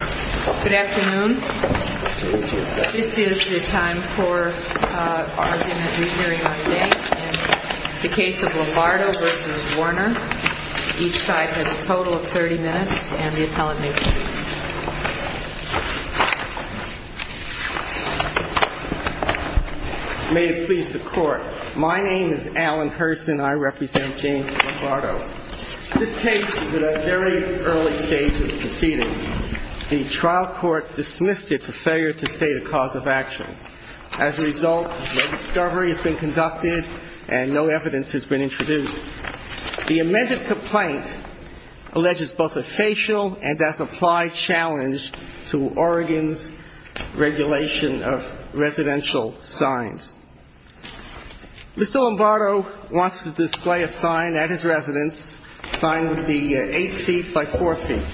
May it please the Court, my name is Alan Hurston. I represent James Lombardo. This case is at a very early stage of the proceedings. The trial court dismissed it for failure to state a cause of action. As a result, no discovery has been conducted and no evidence has been introduced. The amended complaint alleges both a facial and, as applied, challenge to Oregon's regulation of residential signs. Mr. Lombardo wants to display a sign at his residence, a sign that would be 8 feet by 4 feet.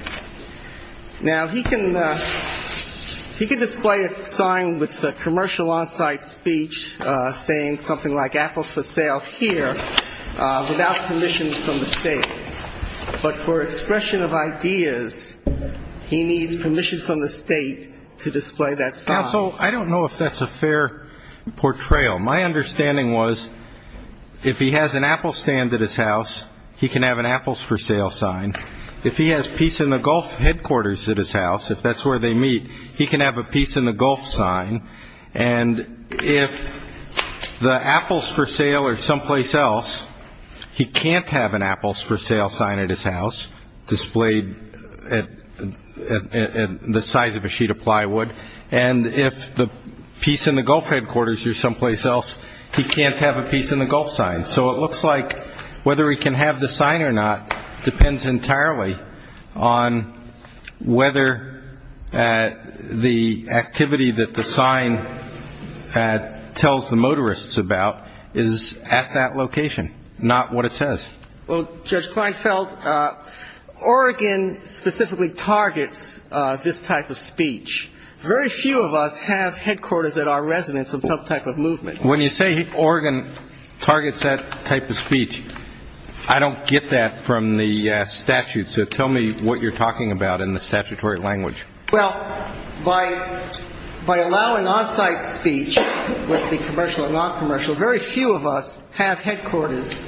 Now, he can display a sign with commercial on-site speech saying something like My understanding was, if he has an apple stand at his house, he can have an apples-for-sale sign. If he has Peace in the Gulf headquarters at his house, if that's where they meet, he can have a Peace in the Gulf sign. And if the apples-for-sale are someplace else, he can't have an apples-for-sale sign at his house displayed the size of a sheet of plywood. And if the Peace in the Gulf headquarters are someplace else, he can't have a Peace in the Gulf sign. And so it looks like whether he can have the sign or not depends entirely on whether the activity that the sign tells the motorists about is at that location, not what it says. Well, Judge Kleinfeld, Oregon specifically targets this type of speech. Very few of us have headquarters at our residence of some type of movement. When you say Oregon targets that type of speech, I don't get that from the statutes. So tell me what you're talking about in the statutory language. Well, by allowing on-site speech, whether it be commercial or non-commercial, very few of us have headquarters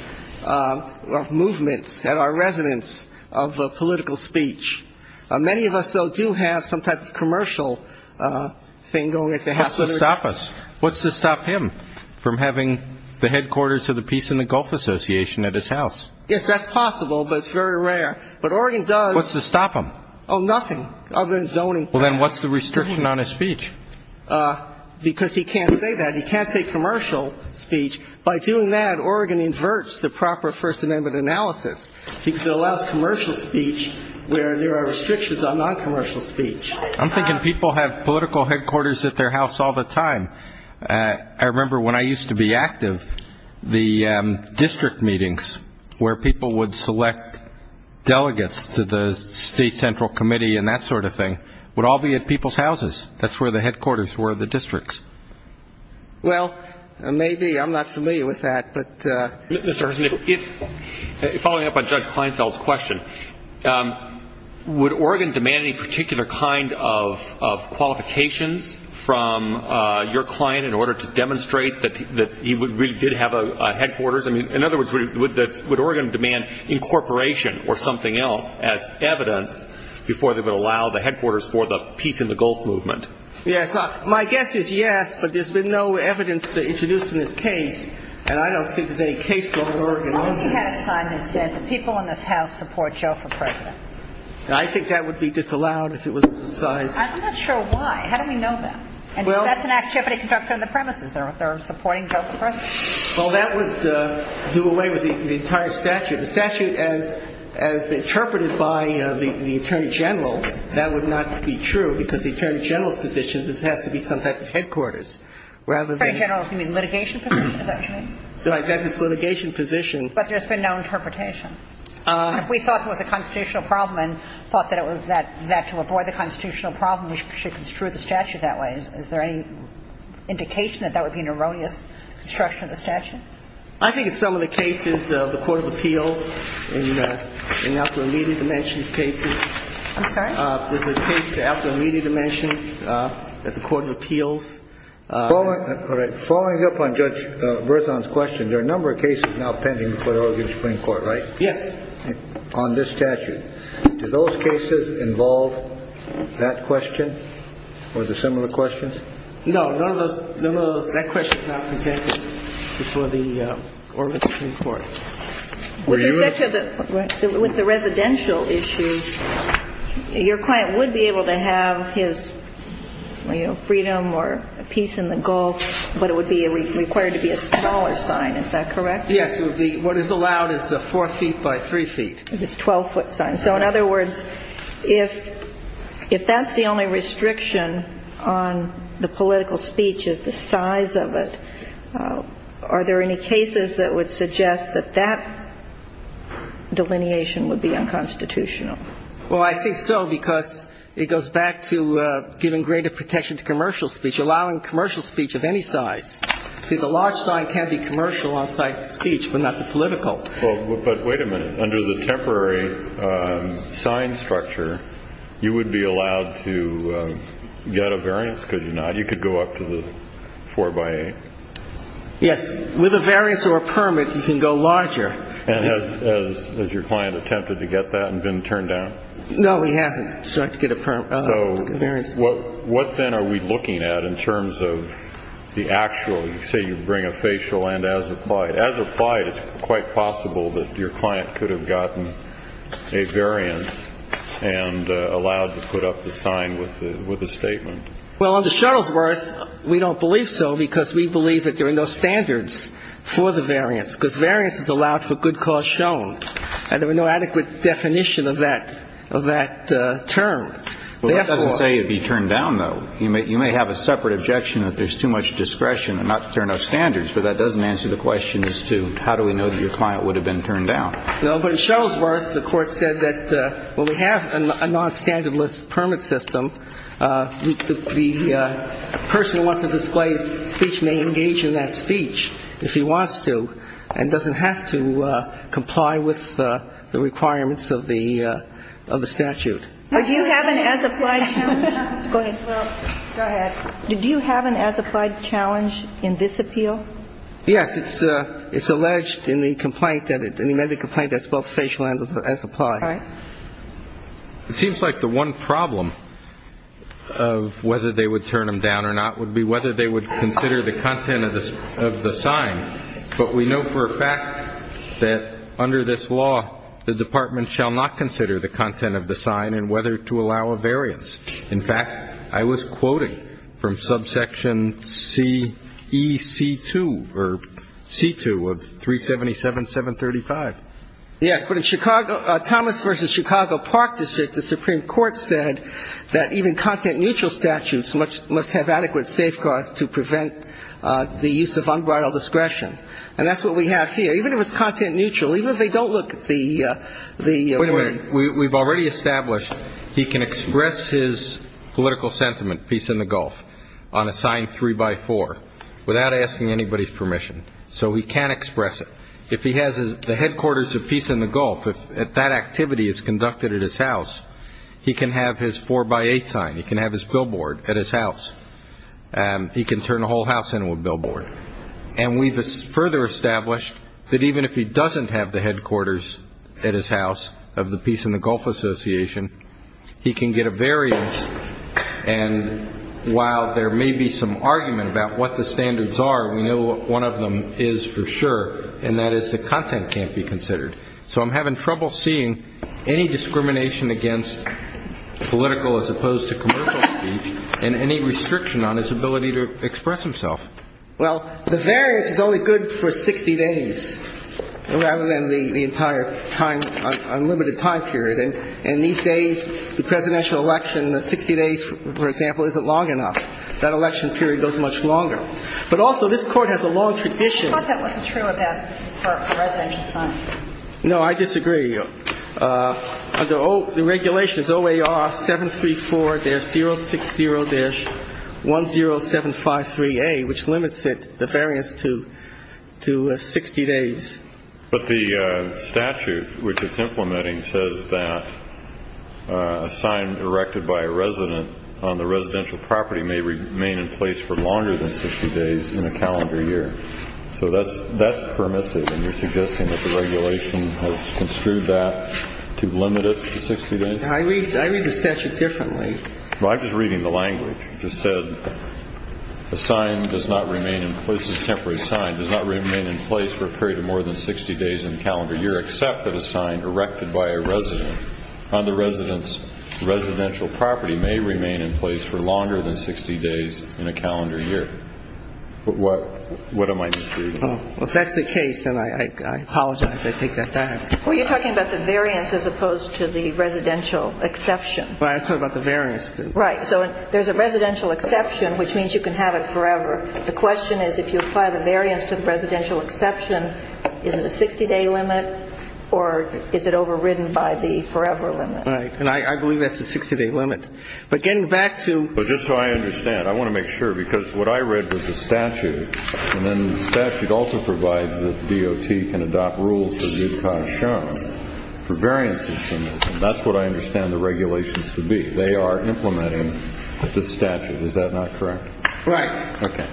of movements at our residence of political speech. Many of us, though, do have some type of commercial thing going at the house. What's to stop us? What's to stop him from having the headquarters of the Peace in the Gulf Association at his house? Yes, that's possible, but it's very rare. But Oregon does. What's to stop him? Oh, nothing other than zoning. Well, then what's the restriction on his speech? Because he can't say that. He can't say commercial speech. By doing that, Oregon inverts the proper First Amendment analysis because it allows commercial speech where there are restrictions on non-commercial speech. I'm thinking people have political headquarters at their house all the time. I remember when I used to be active, the district meetings where people would select delegates to the state central committee and that sort of thing would all be at people's houses. That's where the headquarters were, the districts. Well, maybe. I'm not familiar with that. Mr. Hersen, following up on Judge Kleinfeld's question, would Oregon demand any particular kind of qualifications from your client in order to demonstrate that he really did have a headquarters? I mean, in other words, would Oregon demand incorporation or something else as evidence before they would allow the headquarters for the Peace in the Gulf movement? Yes. My guess is yes, but there's been no evidence introduced in this case, and I don't think there's any case going to Oregon on this. What if he had a sign that said, the people in this house support Joe for president? I think that would be disallowed if it was a sign. I'm not sure why. How do we know that? And if that's an activity conducted on the premises, they're supporting Joe for president? Well, that would do away with the entire statute. The statute, as interpreted by the Attorney General, that would not be true, because the Attorney General's position is it has to be some type of headquarters. Attorney General, you mean litigation position, is that what you mean? That's its litigation position. But there's been no interpretation. If we thought it was a constitutional problem and thought that it was that to avoid the constitutional problem, we should construe the statute that way. Is there any indication that that would be an erroneous construction of the statute? I think in some of the cases of the court of appeals, in the out-of-immediate dimensions cases. I'm sorry? There's a case of out-of-immediate dimensions at the court of appeals. Following up on Judge Berzon's question, there are a number of cases now pending before the Oregon Supreme Court, right? Yes. On this statute. Do those cases involve that question or the similar questions? No. None of those. That question is not presented before the Oregon Supreme Court. With respect to the residential issues, your client would be able to have his, you know, freedom or peace in the Gulf, but it would be required to be a smaller sign. Is that correct? Yes. What is allowed is 4 feet by 3 feet. It's a 12-foot sign. And so in other words, if that's the only restriction on the political speech is the size of it, are there any cases that would suggest that that delineation would be unconstitutional? Well, I think so, because it goes back to giving greater protection to commercial speech, allowing commercial speech of any size. See, the large sign can be commercial on site speech, but not the political. But wait a minute. Under the temporary sign structure, you would be allowed to get a variance, could you not? You could go up to the 4 by 8. Yes. With a variance or a permit, you can go larger. And has your client attempted to get that and been turned down? No, he hasn't. So what then are we looking at in terms of the actual, say you bring a facial and as applied? It's quite possible that your client could have gotten a variance and allowed to put up the sign with a statement. Well, under Shuttlesworth, we don't believe so, because we believe that there are no standards for the variance, because variance is allowed for good cause shown. And there were no adequate definition of that term. Well, that doesn't say you'd be turned down, though. You may have a separate objection that there's too much discretion and not fair enough standards. But that doesn't answer the question as to how do we know that your client would have been turned down. No, but in Shuttlesworth, the Court said that when we have a nonstandardless permit system, the person who wants to display his speech may engage in that speech if he wants to, and doesn't have to comply with the requirements of the statute. Do you have an as applied challenge? Go ahead. Well, go ahead. Do you have an as applied challenge in this appeal? Yes. It's alleged in the complaint that it's both facial and as applied. All right. It seems like the one problem of whether they would turn him down or not would be whether they would consider the content of the sign. But we know for a fact that under this law, the Department shall not consider the content of the sign and whether to allow a variance. In fact, I was quoting from subsection CEC2 or C2 of 377.735. Yes, but in Chicago, Thomas v. Chicago Park District, the Supreme Court said that even content neutral statutes must have adequate safeguards to prevent the use of unbridled discretion. And that's what we have here. Even if it's content neutral, even if they don't look at the word. Wait a minute. We've already established he can express his political sentiment, peace in the Gulf, on a sign three by four without asking anybody's permission. So he can't express it. If he has the headquarters of peace in the Gulf, if that activity is conducted at his house, he can have his four by eight sign. He can have his billboard at his house. He can turn the whole house into a billboard. And we've further established that even if he doesn't have the headquarters at his house of the Peace in the Gulf Association, he can get a variance. And while there may be some argument about what the standards are, we know one of them is for sure, and that is the content can't be considered. So I'm having trouble seeing any discrimination against political as opposed to commercial speech and any restriction on his ability to express himself. Well, the variance is only good for 60 days rather than the entire time, unlimited time period. And these days, the presidential election, the 60 days, for example, isn't long enough. That election period goes much longer. But also this Court has a long tradition. But that wasn't true of that for residential signs. No, I disagree. The regulations, OAR 734-060-10753A, which limits it, the variance, to 60 days. But the statute which it's implementing says that a sign erected by a resident on the residential property may remain in place for longer than 60 days in a calendar year. So that's permissive, and you're suggesting that the regulation has construed that to limit it to 60 days? I read the statute differently. Well, I'm just reading the language. It just said a sign does not remain in place, a temporary sign does not remain in place for a period of more than 60 days in a calendar year except that a sign erected by a resident on the resident's residential property may remain in place for longer than 60 days in a calendar year. What am I misreading? Well, if that's the case, then I apologize. I take that back. Well, you're talking about the variance as opposed to the residential exception. Well, I was talking about the variance. Right. So there's a residential exception, which means you can have it forever. The question is, if you apply the variance to the residential exception, is it a 60-day limit, or is it overridden by the forever limit? Right. And I believe that's the 60-day limit. But getting back to – Well, just so I understand, I want to make sure, because what I read was the statute, and then the statute also provides that DOT can adopt rules for due caution for variances, and that's what I understand the regulations to be. They are implementing the statute. Is that not correct? Right. Okay.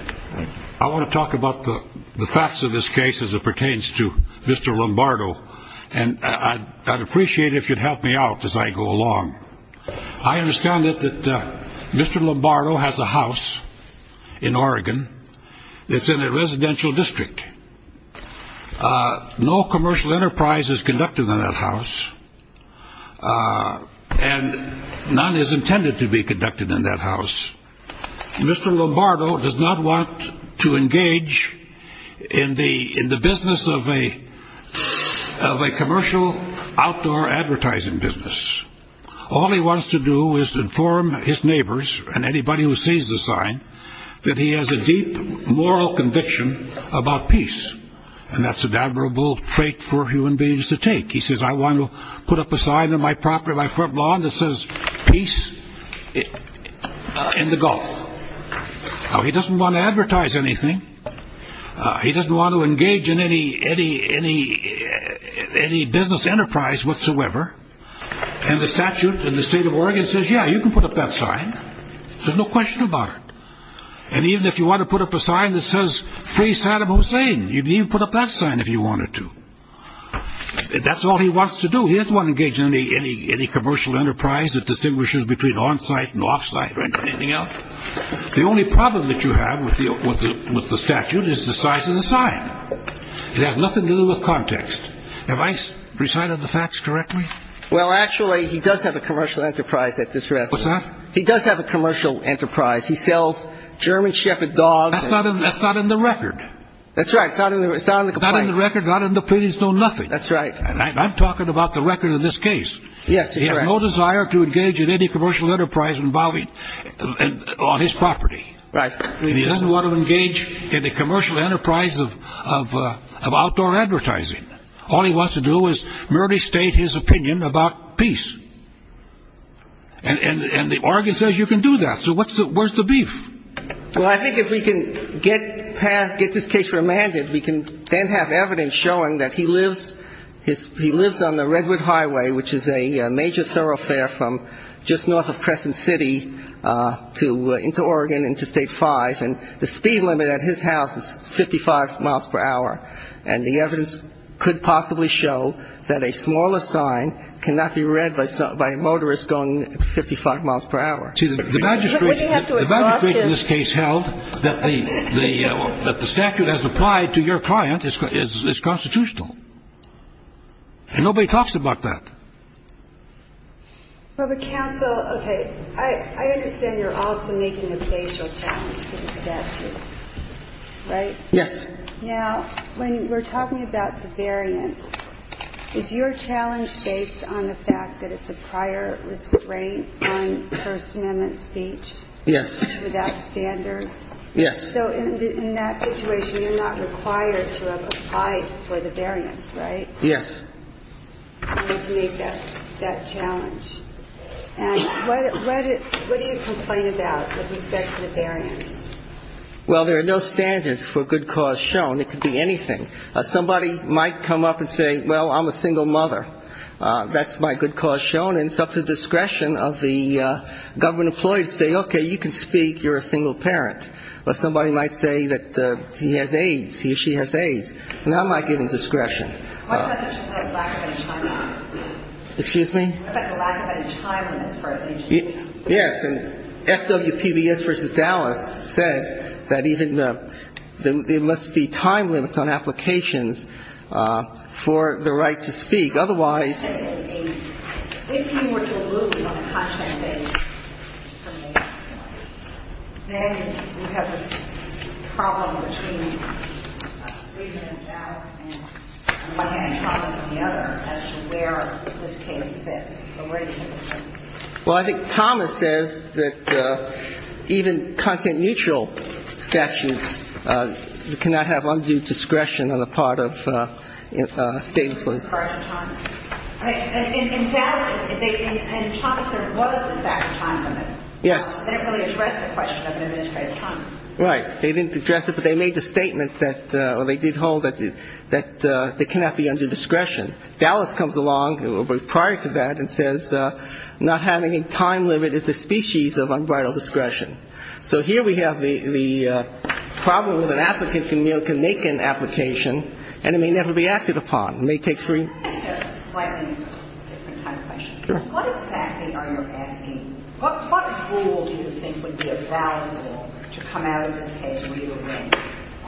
I want to talk about the facts of this case as it pertains to Mr. Lombardo, and I'd appreciate it if you'd help me out as I go along. I understand that Mr. Lombardo has a house in Oregon that's in a residential district. No commercial enterprise is conducted in that house, and none is intended to be conducted in that house. Mr. Lombardo does not want to engage in the business of a commercial outdoor advertising business. All he wants to do is inform his neighbors and anybody who sees the sign that he has a deep moral conviction about peace, and that's an admirable trait for human beings to take. He says, I want to put up a sign on my property, my front lawn that says peace in the Gulf. Now, he doesn't want to advertise anything. He doesn't want to engage in any business enterprise whatsoever, and the statute in the state of Oregon says, yeah, you can put up that sign. There's no question about it. And even if you want to put up a sign that says free Saddam Hussein, you can even put up that sign if you wanted to. That's all he wants to do. He doesn't want to engage in any commercial enterprise that distinguishes between onsite and offsite or anything else. The only problem that you have with the statute is the size of the sign. It has nothing to do with context. Have I recited the facts correctly? Well, actually, he does have a commercial enterprise at this residence. What's that? He does have a commercial enterprise. He sells German shepherd dogs. That's not in the record. That's right. It's not in the record. It's not in the pleadings, no nothing. That's right. And I'm talking about the record in this case. Yes, that's right. He has no desire to engage in any commercial enterprise involving on his property. Right. He doesn't want to engage in a commercial enterprise of outdoor advertising. All he wants to do is merely state his opinion about peace. And the Oregon says you can do that. So where's the beef? Well, I think if we can get this case remanded, we can then have evidence showing that he lives on the Redwood Highway, which is a major thoroughfare from just north of Crescent City into Oregon into State 5, and the speed limit at his house is 55 miles per hour. And the evidence could possibly show that a smaller sign cannot be read by a motorist going 55 miles per hour. See, the magistrate in this case held that the statute as applied to your client is constitutional. And nobody talks about that. Well, but counsel, okay. I understand you're also making a facial challenge to the statute, right? Yes. Now, when we're talking about the variance, is your challenge based on the fact that it's a prior restraint on First Amendment speech? Yes. Without standards? Yes. So in that situation, you're not required to have applied for the variance, right? Yes. You need to meet that challenge. And what do you complain about with respect to the variance? Well, there are no standards for good cause shown. It could be anything. Somebody might come up and say, well, I'm a single mother. That's my good cause shown. And it's up to discretion of the government employee to say, okay, you can speak. You're a single parent. Or somebody might say that he has AIDS, he or she has AIDS. And I'm not giving discretion. What about the lack of any time limits? Yes. And FWPBS versus Dallas said that even there must be time limits on applications for the right to speak. Otherwise ---- If you were diluting on a content-based basis, then you have this problem between reason and Dallas and one hand and Thomas on the other as to where this case fits. So where do you think it fits? Well, I think Thomas says that even content-neutral statutes, you cannot have undue discretion on the part of state employees. In Dallas and Thomas, there was, in fact, a time limit. Yes. They didn't really address the question of administrative time. Right. They didn't address it, but they made the statement that they did hold that they cannot be under discretion. Dallas comes along prior to that and says not having a time limit is a species of unbridled discretion. So here we have the problem with an applicant can make an application and it may never be acted upon. May take three. I have a slightly different kind of question. Sure. What exactly are you asking? What rule do you think would be a valid rule to come out of this case where you would win?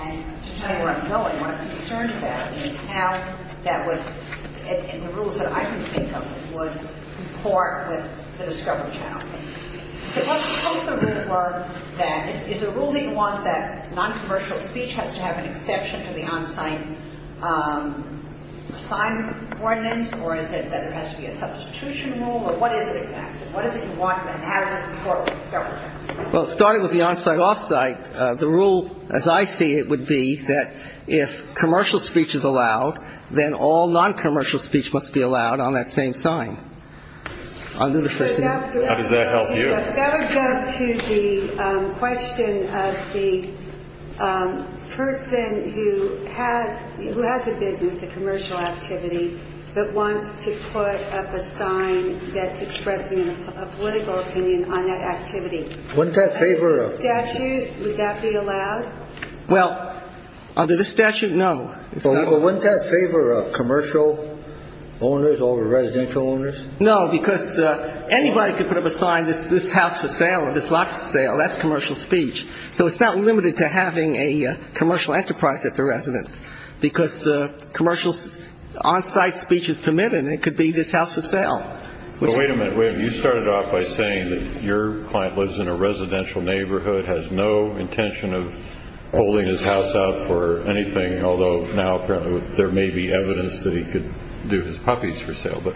And to tell you where I'm going, what I'm concerned about is how that would ---- and the rules that I can think of would comport with the discovery challenge. So what's the rule for that? Is the rule that you want that noncommercial speech has to have an exception to the on-site sign ordinance, or is it that there has to be a substitution rule? Or what is it exactly? What is it you want to have in the discovery challenge? Well, starting with the on-site, off-site, the rule, as I see it, would be that if commercial speech is allowed, then all noncommercial speech must be allowed on that same sign under the first amendment. How does that help you? That would go to the question of the person who has a business, a commercial activity, but wants to put up a sign that's expressing a political opinion on that activity. Wouldn't that favor a ---- Under the statute, would that be allowed? Well, under the statute, no. So wouldn't that favor commercial owners over residential owners? No, because anybody could put up a sign, this house for sale or this lot for sale, that's commercial speech. So it's not limited to having a commercial enterprise at the residence, because commercial on-site speech is permitted and it could be this house for sale. Well, wait a minute, William. You started off by saying that your client lives in a residential neighborhood, has no intention of holding his house out for anything, although now apparently there may be evidence that he could do his puppies for sale. But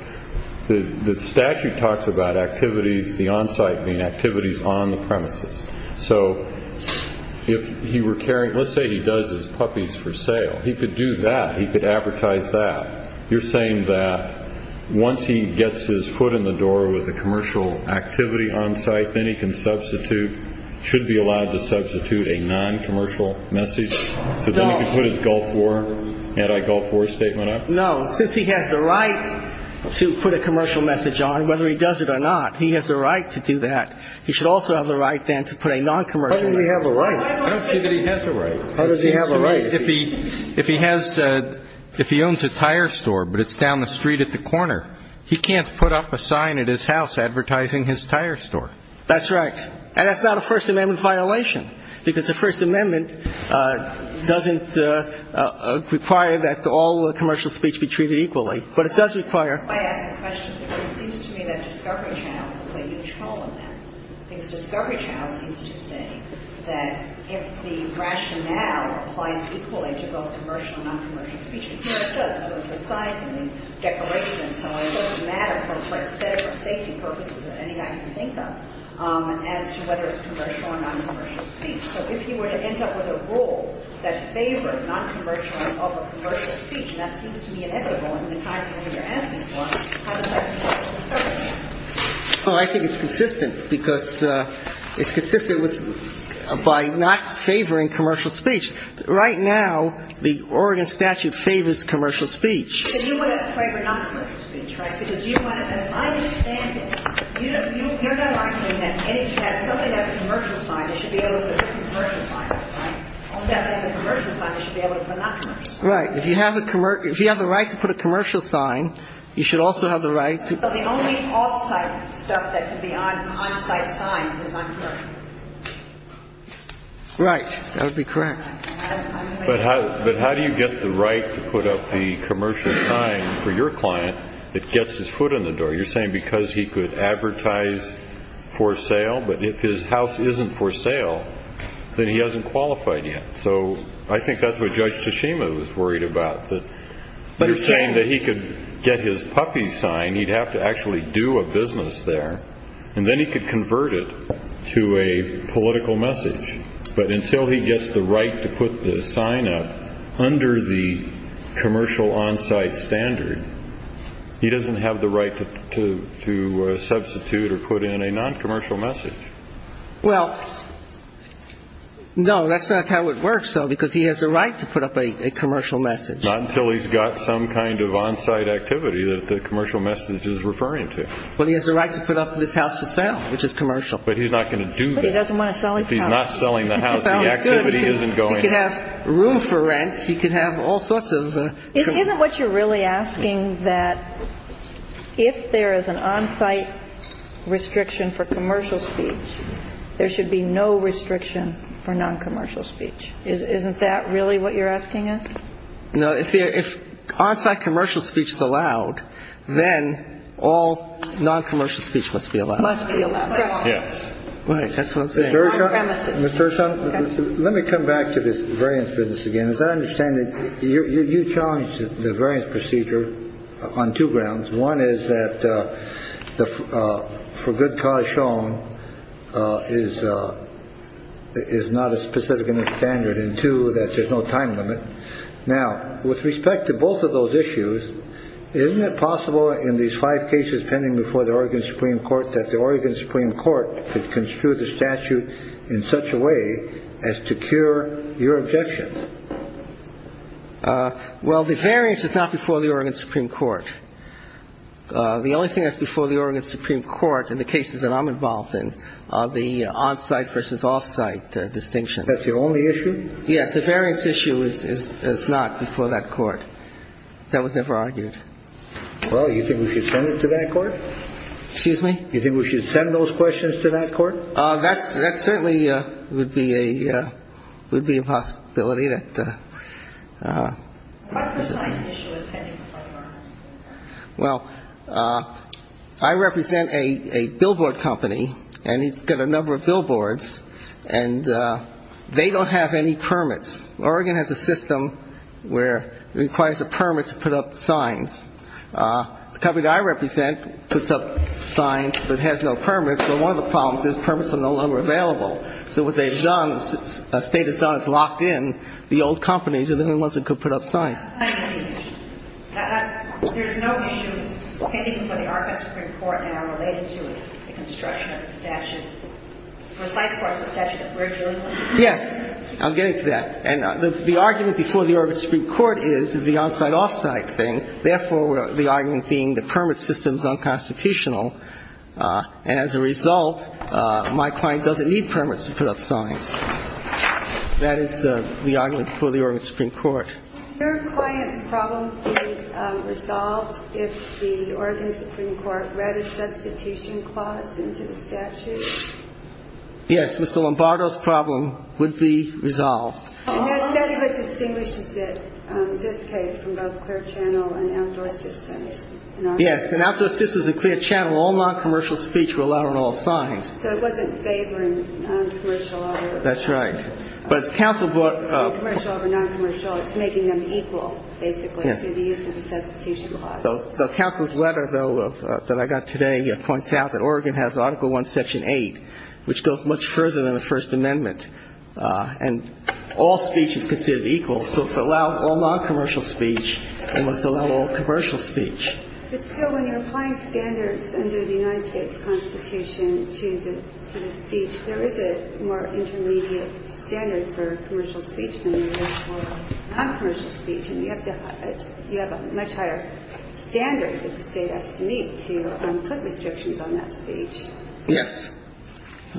the statute talks about activities, the on-site being activities on the premises. So if he were carrying ---- let's say he does his puppies for sale. He could do that. He could advertise that. You're saying that once he gets his foot in the door with a commercial activity on-site, then he can substitute, should be allowed to substitute a non-commercial message? No. So then he could put his Gulf War, anti-Gulf War statement up? No. Since he has the right to put a commercial message on, whether he does it or not, he has the right to do that. He should also have the right then to put a non-commercial message. How does he have a right? I don't see that he has a right. How does he have a right? If he owns a tire store but it's down the street at the corner, he can't put up a sign at his house advertising his tire store. That's right. And that's not a First Amendment violation, because the First Amendment doesn't require that all commercial speech be treated equally. But it does require. If I ask a question, it seems to me that Discovery Channel can play a huge role in that. Because Discovery Channel seems to say that if the rationale applies equally to both commercial and non-commercial speech, and here it does, but with the signs and the declaration and so on, it doesn't matter for aesthetic or safety purposes or any item to think of, as to whether it's commercial or non-commercial speech. So if he were to end up with a rule that favored non-commercial over commercial speech, and that seems to be inevitable in the times when we are asking for, how does that compare to Discovery Channel? Well, I think it's consistent. Because it's consistent by not favoring commercial speech. Right now, the Oregon statute favors commercial speech. But you would have favored non-commercial speech, right? Because you want to, as I understand it, Right. If you have the right to put a commercial sign, you should also have the right to. So the only off-site stuff that could be on-site signs is non-commercial. Right. That would be correct. But how do you get the right to put up the commercial sign for your client that gets his foot in the door? But if his house isn't for sale, then he hasn't qualified yet. So I think that's what Judge Tashima was worried about, that you're saying that he could get his puppy sign, he'd have to actually do a business there, and then he could convert it to a political message. But until he gets the right to put the sign up under the commercial on-site standard, he doesn't have the right to substitute or put in a non-commercial message. Well, no, that's not how it works, though, because he has the right to put up a commercial message. Not until he's got some kind of on-site activity that the commercial message is referring to. But he has the right to put up this house for sale, which is commercial. But he's not going to do that. But he doesn't want to sell his house. If he's not selling the house, the activity isn't going. He could have room for rent. He could have all sorts of commercial. Isn't what you're really asking that if there is an on-site restriction for commercial speech, there should be no restriction for non-commercial speech? Isn't that really what you're asking us? No. If on-site commercial speech is allowed, then all non-commercial speech must be allowed. Must be allowed. Correct. Yes. Right. That's what I'm saying. On premises. Ms. Gershon, let me come back to this variance business again. As I understand it, you challenged the variance procedure on two grounds. One is that the for good cause shown is is not a specific standard and two, that there's no time limit. Now, with respect to both of those issues, isn't it possible in these five cases pending before the Oregon Supreme Court that the Oregon Supreme Court could construe the statute in such a way as to cure your objections? Well, the variance is not before the Oregon Supreme Court. The only thing that's before the Oregon Supreme Court in the cases that I'm involved in are the on-site versus off-site distinction. That's the only issue? Yes. The variance issue is not before that court. That was never argued. Well, you think we should send it to that court? Excuse me? You think we should send those questions to that court? That certainly would be a possibility. Well, I represent a billboard company, and it's got a number of billboards, and they don't have any permits. Oregon has a system where it requires a permit to put up signs. The company that I represent puts up signs, but it has no permits. But one of the problems is permits are no longer available. So what they've done, the State has done, is locked in the old companies are the only ones that could put up signs. There's no issue pending before the Oregon Supreme Court now related to the construction of the statute. It was like the statute that we're dealing with. Yes. I'm getting to that. And the argument before the Oregon Supreme Court is the on-site, off-site thing. Therefore, the argument being the permit system is unconstitutional. And as a result, my client doesn't need permits to put up signs. That is the argument before the Oregon Supreme Court. Is your client's problem being resolved if the Oregon Supreme Court read a substitution clause into the statute? Yes. Mr. Lombardo's problem would be resolved. That's what distinguishes it, this case, from both clear channel and outdoor systems. Yes. And outdoor systems and clear channel, all noncommercial speech were allowed on all signs. So it wasn't favoring noncommercial over noncommercial. That's right. But it's making them equal, basically, to the use of the substitution clause. The counsel's letter, though, that I got today points out that Oregon has Article I, Section 8, which goes much further than the First Amendment. And all speech is considered equal. So to allow all noncommercial speech, it must allow all commercial speech. But still, when you're applying standards under the United States Constitution to the speech, there is a more intermediate standard for commercial speech than there is for noncommercial speech. And you have a much higher standard that the State has to meet to put restrictions on that speech. Yes.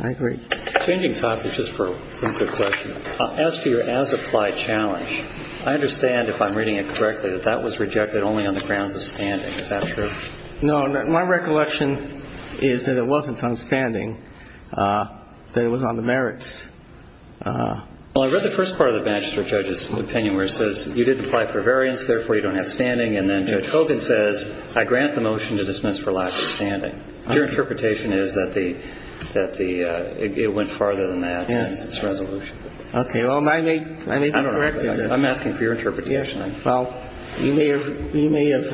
I agree. Changing topics just for one quick question. As to your as-applied challenge, I understand, if I'm reading it correctly, that that was rejected only on the grounds of standing. Is that true? No. My recollection is that it wasn't on standing, that it was on the merits. Well, I read the first part of the Banchester judge's opinion where it says you didn't apply for variance, therefore you don't have standing. And then Judge Hogan says, I grant the motion to dismiss for lack of standing. Your interpretation is that it went farther than that in its resolution. Okay. Well, I may be correct in that. I'm asking for your interpretation. Well, you may have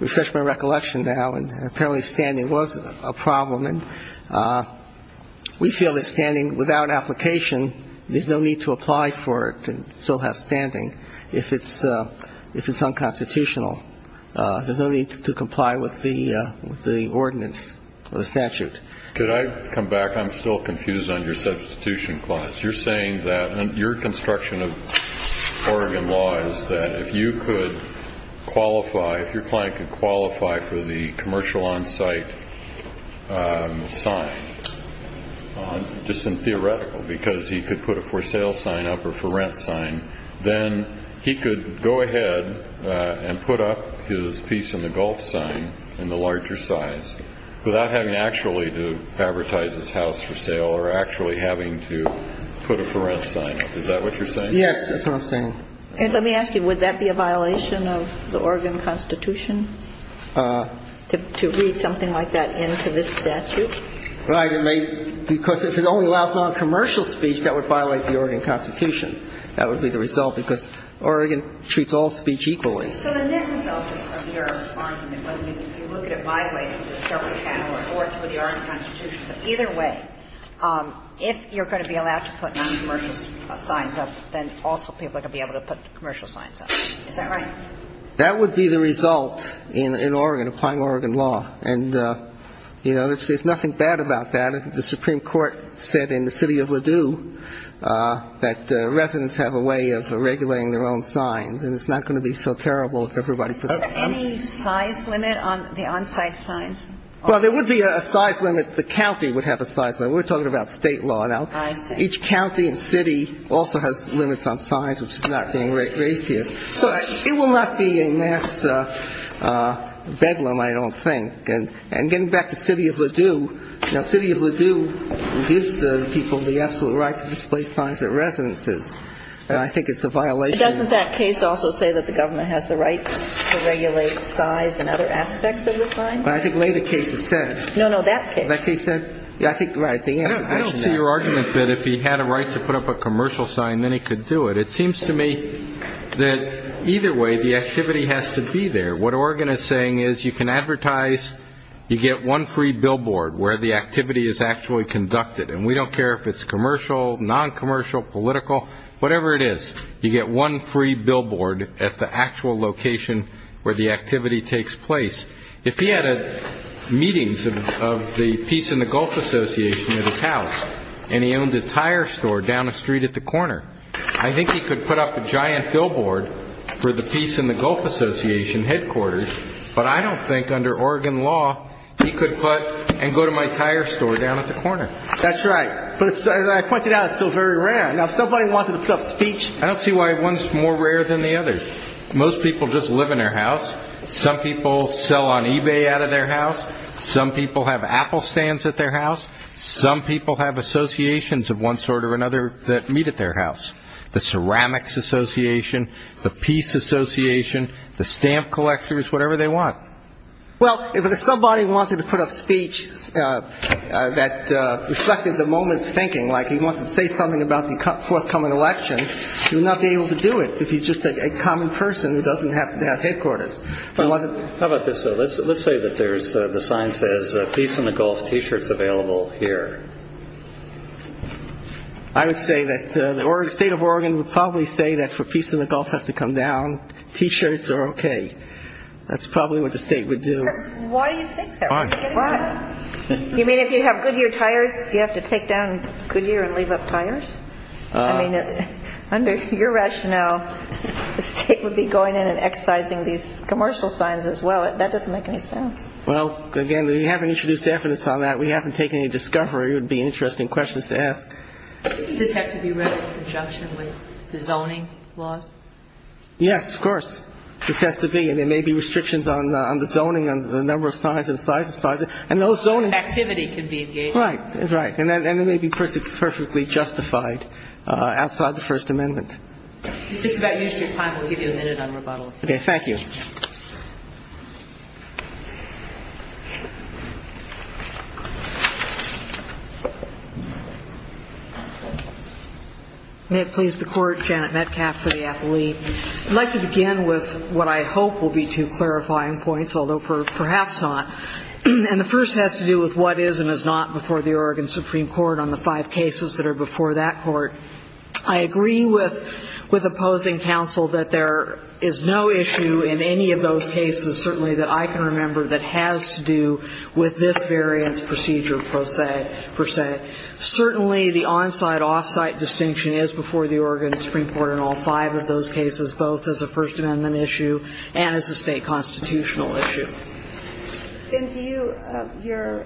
refreshed my recollection now. And apparently standing was a problem. And we feel that standing, without application, there's no need to apply for it and still have standing if it's unconstitutional. There's no need to comply with the ordinance or the statute. Could I come back? I'm still confused on your substitution clause. You're saying that your construction of Oregon law is that if you could qualify, if your client could qualify for the commercial on-site sign, just in theoretical, because he could put a for-sale sign up or for-rent sign, then he could go ahead and put up his piece in the gulf sign in the larger size without having actually to advertise his house for sale or actually having to put a for-rent sign up. Is that what you're saying? Yes, that's what I'm saying. Let me ask you, would that be a violation of the Oregon Constitution to read something like that into this statute? Right. Because if it only allows noncommercial speech, that would violate the Oregon Constitution. That would be the result, because Oregon treats all speech equally. So the net result of your argument, whether you look at it my way, or the Oregon Constitution, either way, if you're going to be allowed to put noncommercial signs up, then also people are going to be able to put commercial signs up. Is that right? That would be the result in Oregon, applying Oregon law. And, you know, there's nothing bad about that. The Supreme Court said in the city of Ladue that residents have a way of regulating their own signs, and it's not going to be so terrible if everybody puts up their own. Is there any size limit on the on-site signs? Well, there would be a size limit. The county would have a size limit. We're talking about state law now. I see. Each county and city also has limits on signs, which is not being raised here. It will not be a mass bedlam, I don't think. And getting back to city of Ladue, now city of Ladue gives the people the absolute right to display signs at residences, and I think it's a violation. But doesn't that case also say that the government has the right to regulate size and other aspects of the signs? I think later cases said. No, no, that case. That case said. I don't see your argument that if he had a right to put up a commercial sign, then he could do it. It seems to me that either way the activity has to be there. What Oregon is saying is you can advertise. You get one free billboard where the activity is actually conducted, and we don't care if it's commercial, non-commercial, political, whatever it is. You get one free billboard at the actual location where the activity takes place. If he had meetings of the Peace and the Gulf Association at his house and he owned a tire store down the street at the corner, I think he could put up a giant billboard for the Peace and the Gulf Association headquarters, but I don't think under Oregon law he could put and go to my tire store down at the corner. That's right. But as I pointed out, it's still very rare. Now, if somebody wanted to put up a speech. I don't see why one's more rare than the other. Most people just live in their house. Some people sell on eBay out of their house. Some people have Apple stands at their house. Some people have associations of one sort or another that meet at their house. The Ceramics Association, the Peace Association, the stamp collectors, whatever they want. Well, if somebody wanted to put up speech that reflected the moment's thinking, like he wants to say something about the forthcoming election, he would not be able to do it if he's just a common person who doesn't have headquarters. How about this, though? Let's say that the sign says Peace and the Gulf T-shirts available here. I would say that the state of Oregon would probably say that for Peace and the Gulf has to come down, T-shirts are okay. That's probably what the state would do. Why do you think so? Why? You mean if you have Goodyear tires, you have to take down Goodyear and leave up tires? I mean, under your rationale, the state would be going in and excising these commercial signs as well. That doesn't make any sense. Well, again, we haven't introduced evidence on that. We haven't taken any discovery. It would be interesting questions to ask. Doesn't this have to be read in conjunction with the zoning laws? Yes, of course. This has to be. And there may be restrictions on the zoning on the number of signs and the size of signs. And those zoning activity can be engaged. Right. Right. And it may be perfectly justified outside the First Amendment. We've just about used your time. We'll give you a minute on rebuttal. Okay. Thank you. May it please the Court. Janet Metcalfe for the appellee. I'd like to begin with what I hope will be two clarifying points, although perhaps not. And the first has to do with what is and is not before the Oregon Supreme Court on the five cases that are before that court. I agree with opposing counsel that there is no issue in any of those cases, certainly that I can remember, that has to do with this variance procedure per se. Certainly the on-site, off-site distinction is before the Oregon Supreme Court in all five of those cases, both as a First Amendment issue and as a state constitutional issue. Then to you, your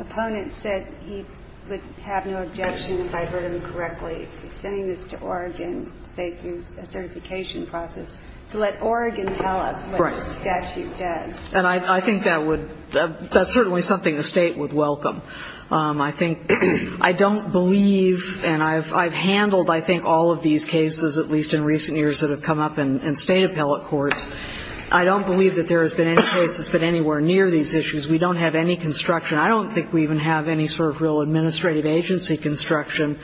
opponent said he would have no objection if I heard him correctly to sending this to Oregon, say through a certification process, to let Oregon tell us what the statute does. Right. And I think that would, that's certainly something the state would welcome. I think, I don't believe, and I've handled, I think, all of these cases, at least in recent years that have come up in state appellate courts. I don't believe that there has been any case that's been anywhere near these issues. We don't have any construction. I don't think we even have any sort of real administrative agency construction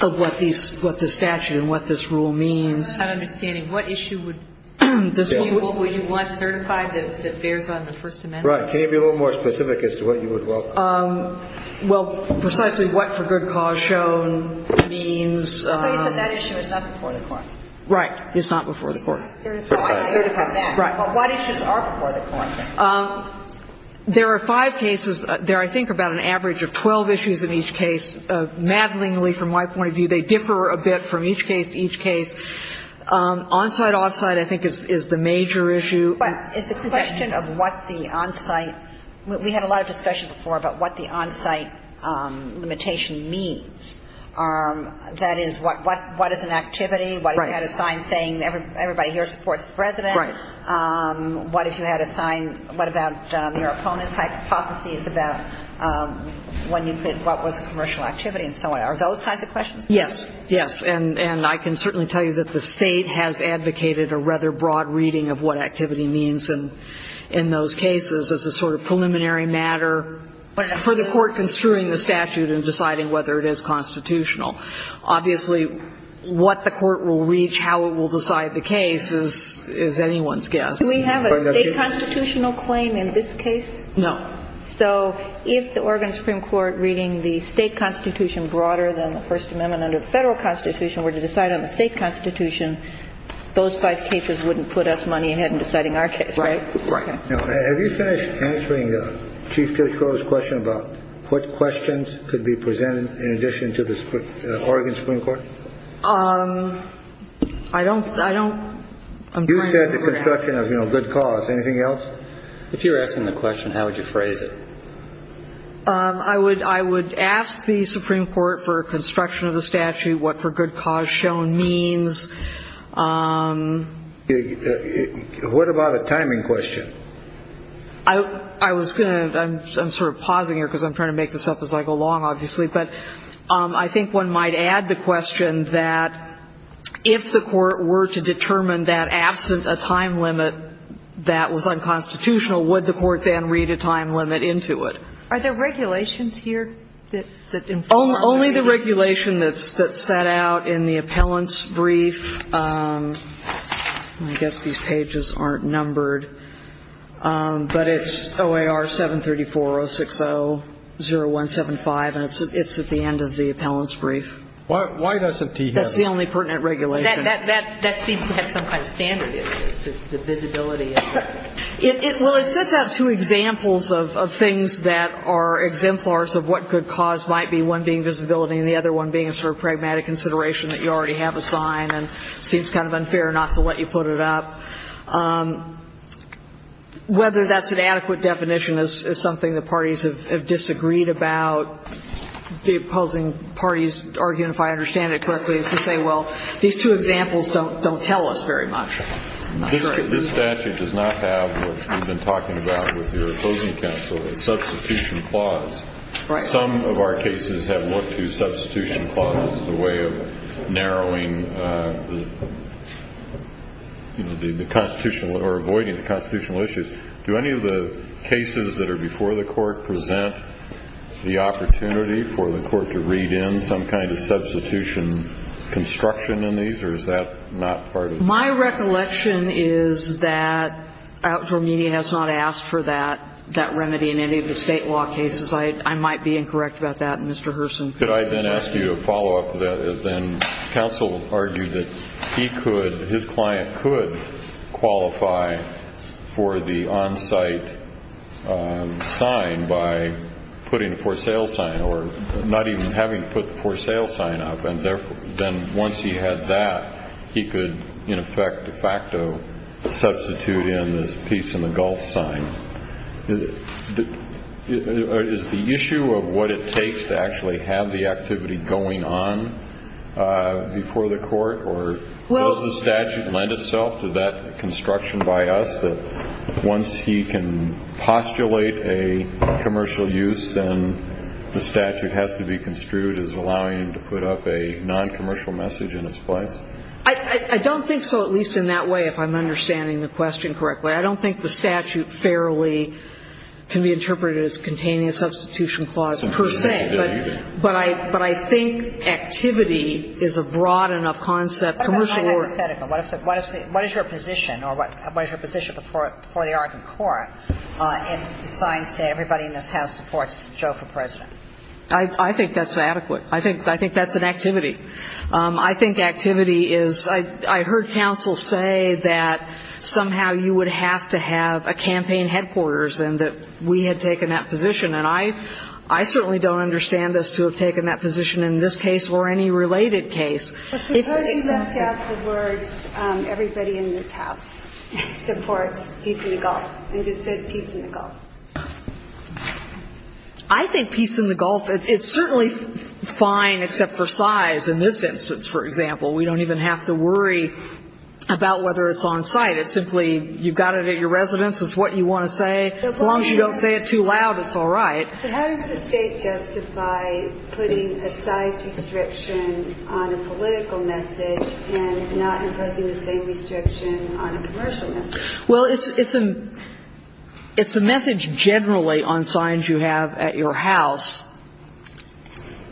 of what these, what the statute and what this rule means. I'm just not understanding. What issue would you want certified that bears on the First Amendment? Right. Can you be a little more specific as to what you would welcome? Well, precisely what for good cause shown means. But that issue is not before the court. Right. It's not before the court. Right. But what issues are before the court? There are five cases. There are, I think, about an average of 12 issues in each case. Maddlingly, from my point of view, they differ a bit from each case to each case. On-site, off-site I think is the major issue. But it's a question of what the on-site, we had a lot of discussion before about what the on-site limitation means. That is, what is an activity? Right. What if you had a sign saying everybody here supports the President? Right. What if you had a sign, what about your opponent's hypotheses about when you could, what was a commercial activity and so on? Are those kinds of questions? Yes. Yes. And I can certainly tell you that the State has advocated a rather broad reading of what activity means in those cases as a sort of preliminary matter for the court construing the statute and deciding whether it is constitutional. Obviously, what the court will reach, how it will decide the case is anyone's guess. Do we have a State constitutional claim in this case? No. So if the Oregon Supreme Court reading the State Constitution broader than the First Amendment under the Federal Constitution were to decide on the State Constitution, those five cases wouldn't put us money ahead in deciding our case, right? Right. Have you finished answering Chief Judge Crow's question about what questions could be presented in addition to the Oregon Supreme Court? I don't, I don't. You said the construction of, you know, good cause. Anything else? If you were asking the question, how would you phrase it? I would ask the Supreme Court for construction of the statute, what for good cause shown means. What about a timing question? I was going to, I'm sort of pausing here because I'm trying to make this up as I go along, obviously, but I think one might add the question that if the court were to determine that absent a time limit that was unconstitutional, would the court then read a time limit into it? Are there regulations here that inform? Only the regulation that's set out in the appellant's brief. I guess these pages aren't numbered. But it's OAR 734-060-0175, and it's at the end of the appellant's brief. Why doesn't he have it? That's the only pertinent regulation. That seems to have some kind of standard, the visibility. Well, it sets out two examples of things that are exemplars of what good cause might be, one being visibility and the other one being a sort of pragmatic consideration that you already have a sign and seems kind of unfair not to let you put it up. Whether that's an adequate definition is something the parties have disagreed about. The opposing parties argue, if I understand it correctly, is to say, well, these two examples don't tell us very much. This statute does not have what we've been talking about with your opposing counsel, a substitution clause. Right. Some of our cases have looked to substitution clauses as a way of narrowing, you know, the constitutional or avoiding the constitutional issues. Do any of the cases that are before the Court present the opportunity for the Court to read in some kind of substitution construction in these, or is that not part of it? My recollection is that outlaw media has not asked for that remedy in any of the State law cases. I might be incorrect about that, Mr. Herson. Could I then ask you to follow up with that? Counsel argued that he could, his client could qualify for the on-site sign by putting a for sale sign or not even having to put the for sale sign up, and then once he had that, he could, in effect, de facto, substitute in this peace and the gulf sign. Is the issue of what it takes to actually have the activity going on before the Court, or does the statute lend itself to that construction by us that once he can postulate a commercial use, then the statute has to be construed as allowing him to put up a noncommercial message in its place? I don't think so, at least in that way, if I'm understanding the question correctly. I don't think the statute fairly can be interpreted as containing a substitution clause, per se. But I think activity is a broad enough concept. What is your position, or what is your position before the Arkin Court if the sign says everybody in this House supports Joe for President? I think that's adequate. I think that's an activity. I think activity is, I heard counsel say that somehow you would have to have a campaign headquarters and that we had taken that position. And I certainly don't understand us to have taken that position in this case or any related case. Suppose he left out the words everybody in this House supports peace in the gulf and just said peace in the gulf. I think peace in the gulf, it's certainly fine except for size. In this instance, for example, we don't even have to worry about whether it's on site. It's simply you've got it at your residence, it's what you want to say. As long as you don't say it too loud, it's all right. But how does the state justify putting a size restriction on a political message and not imposing the same restriction on a commercial message? Well, it's a message generally on signs you have at your house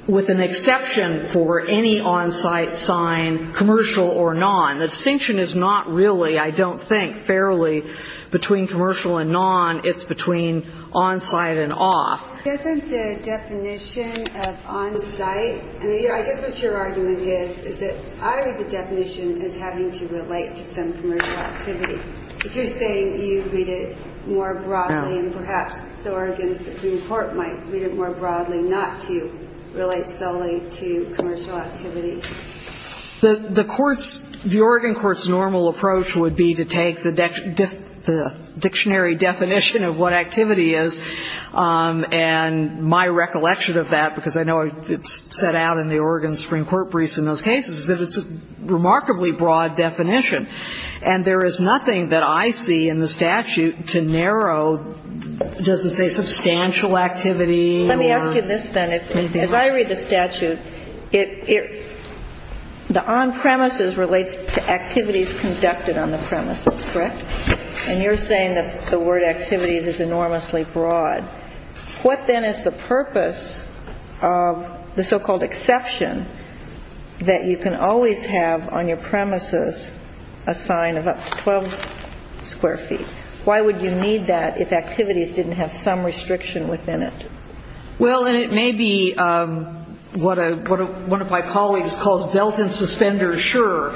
with an exception for any on-site sign, commercial or non. The distinction is not really, I don't think, fairly between commercial and non. It's between on-site and off. Isn't the definition of on-site? I guess what your argument is is that I read the definition as having to relate to some commercial activity. But you're saying you read it more broadly and perhaps the Oregon Supreme Court might read it more broadly not to relate solely to commercial activity. The court's, the Oregon court's normal approach would be to take the dictionary definition of what activity is. And my recollection of that, because I know it's set out in the Oregon Supreme Court briefs in those cases, is that it's a remarkably broad definition. And there is nothing that I see in the statute to narrow, it doesn't say substantial activity or anything like that. Let me ask you this then. As I read the statute, the on-premises relates to activities conducted on the premises, correct? And you're saying that the word activities is enormously broad. What then is the purpose of the so-called exception that you can always have on your premises a sign of up to 12 square feet? Why would you need that if activities didn't have some restriction within it? Well, and it may be what one of my colleagues calls belt-and-suspender sure.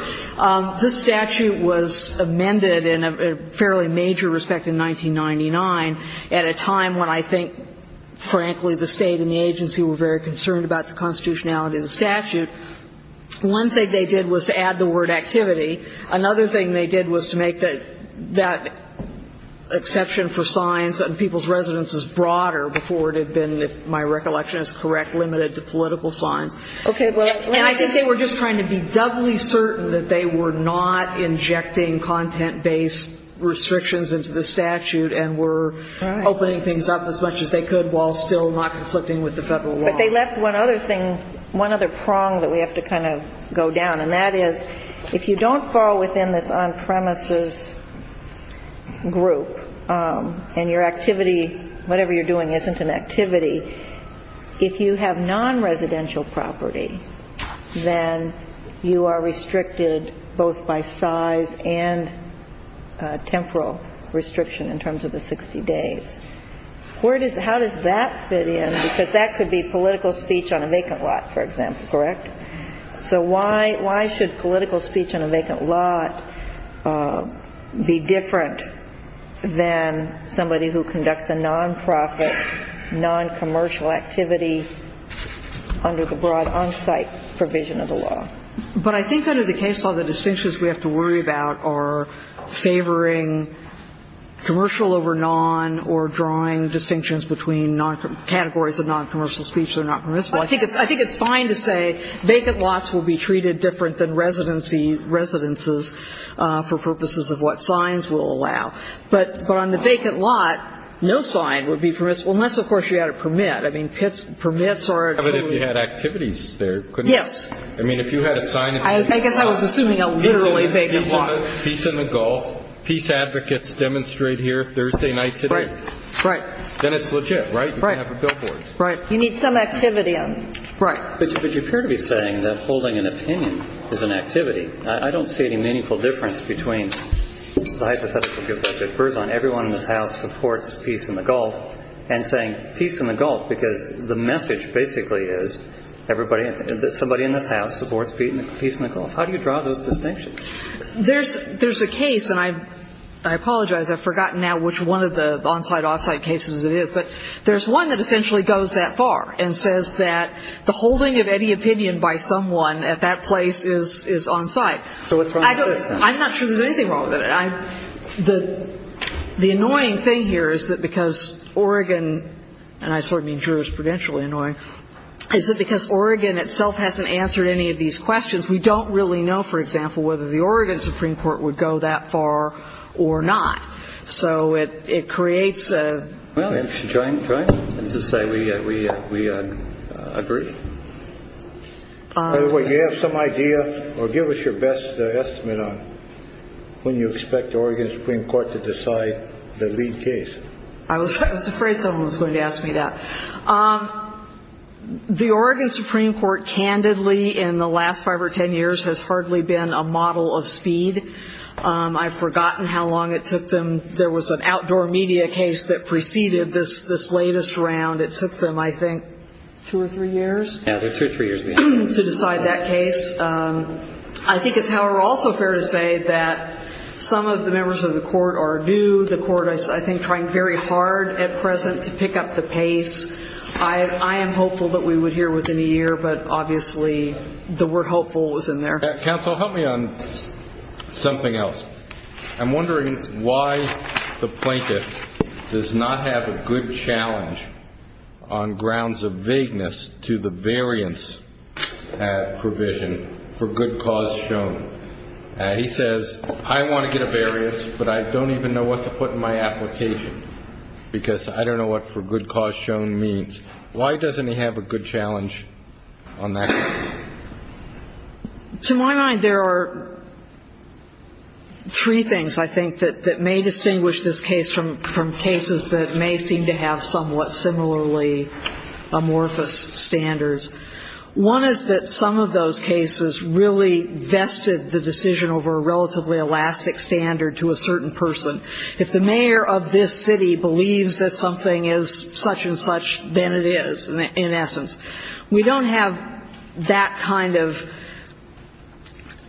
This statute was amended in a fairly major respect in 1999 at a time when I think, frankly, the State and the agency were very concerned about the constitutionality of the statute. One thing they did was to add the word activity. Another thing they did was to make that exception for signs on people's residences broader before it had been, if my recollection is correct, limited to political signs. And I think they were just trying to be doubly certain that they were not injecting content-based restrictions into the statute and were opening things up as much as they could while still not conflicting with the Federal law. But they left one other thing, one other prong that we have to kind of go down. And that is, if you don't fall within this on-premises group and your activity, whatever you're doing isn't an activity, if you have non-residential property, then you are restricted both by size and temporal restriction in terms of the 60 days. How does that fit in? Because that could be political speech on a vacant lot, for example, correct? So why should political speech on a vacant lot be different than somebody who conducts a non-profit, non-commercial activity under the broad on-site provision of the law? But I think under the case law, the distinctions we have to worry about are favoring commercial over non or drawing distinctions between categories of non-commercial speech that are not permissible. I think it's fine to say vacant lots will be treated different than residencies for purposes of what signs will allow. But on the vacant lot, no sign would be permissible unless, of course, you had a permit. I mean, permits are a code. But if you had activities there, couldn't you? Yes. I mean, if you had a sign. I guess I was assuming a literally vacant lot. Peace in the Gulf, peace advocates demonstrate here Thursday nights at 8. Right, right. Then it's legit, right? You can have billboards. You need some activity on them. Right. But you appear to be saying that holding an opinion is an activity. I don't see any meaningful difference between the hypothetical that differs on everyone in this House supports peace in the Gulf and saying peace in the Gulf, because the message basically is everybody, somebody in this House supports peace in the Gulf. How do you draw those distinctions? There's a case, and I apologize. I've forgotten now which one of the on-site, off-site cases it is. But there's one that essentially goes that far and says that the holding of any opinion by someone at that place is on-site. So what's wrong with this, then? I'm not sure there's anything wrong with it. The annoying thing here is that because Oregon, and I sort of mean jurisprudentially annoying, is that because Oregon itself hasn't answered any of these questions, we don't really know, for example, whether the Oregon Supreme Court would go that far or not. So it creates a – Well, join, join. Let's just say we agree. By the way, do you have some idea or give us your best estimate on when you expect the Oregon Supreme Court to decide the lead case? I was afraid someone was going to ask me that. The Oregon Supreme Court candidly in the last five or ten years has hardly been a model of speed. I've forgotten how long it took them. There was an outdoor media case that preceded this latest round. It took them, I think, two or three years? Yeah, two or three years. To decide that case. I think it's, however, also fair to say that some of the members of the court are new. The court is, I think, trying very hard at present to pick up the pace. I am hopeful that we would hear within a year, but obviously the word hopeful is in there. Counsel, help me on something else. I'm wondering why the plaintiff does not have a good challenge on grounds of vagueness to the variance provision for good cause shown. He says, I want to get a variance, but I don't even know what to put in my application because I don't know what for good cause shown means. Why doesn't he have a good challenge on that? To my mind, there are three things, I think, that may distinguish this case from cases that may seem to have somewhat similarly amorphous standards. One is that some of those cases really vested the decision over a relatively elastic standard to a certain person. If the mayor of this city believes that something is such and such, then it is, in essence. We don't have that kind of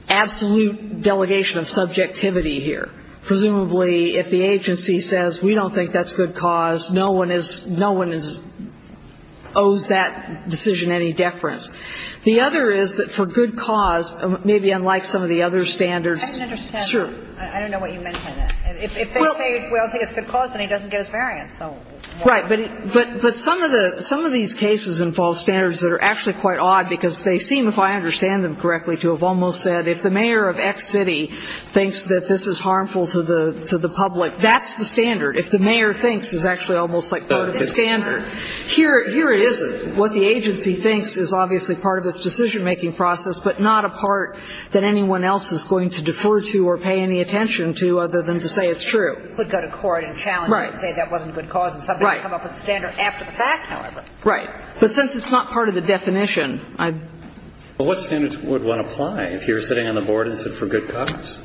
absolute delegation of subjectivity here. Presumably, if the agency says we don't think that's good cause, no one is, no one owes that decision any deference. The other is that for good cause, maybe unlike some of the other standards. I didn't understand. Sure. I don't know what you meant by that. If they say we don't think it's good cause, then he doesn't get his variance. Right. But some of these cases involve standards that are actually quite odd because they seem, if I understand them correctly, to have almost said if the mayor of X city thinks that this is harmful to the public, that's the standard. If the mayor thinks it's actually almost like part of the standard, here it isn't. What the agency thinks is obviously part of its decision-making process, but not a part that anyone else is going to defer to or pay any attention to other than to say it's true. Right. Right. But since it's not part of the definition, I'm... Well, what standards would one apply if you're sitting on the board and said for good cause?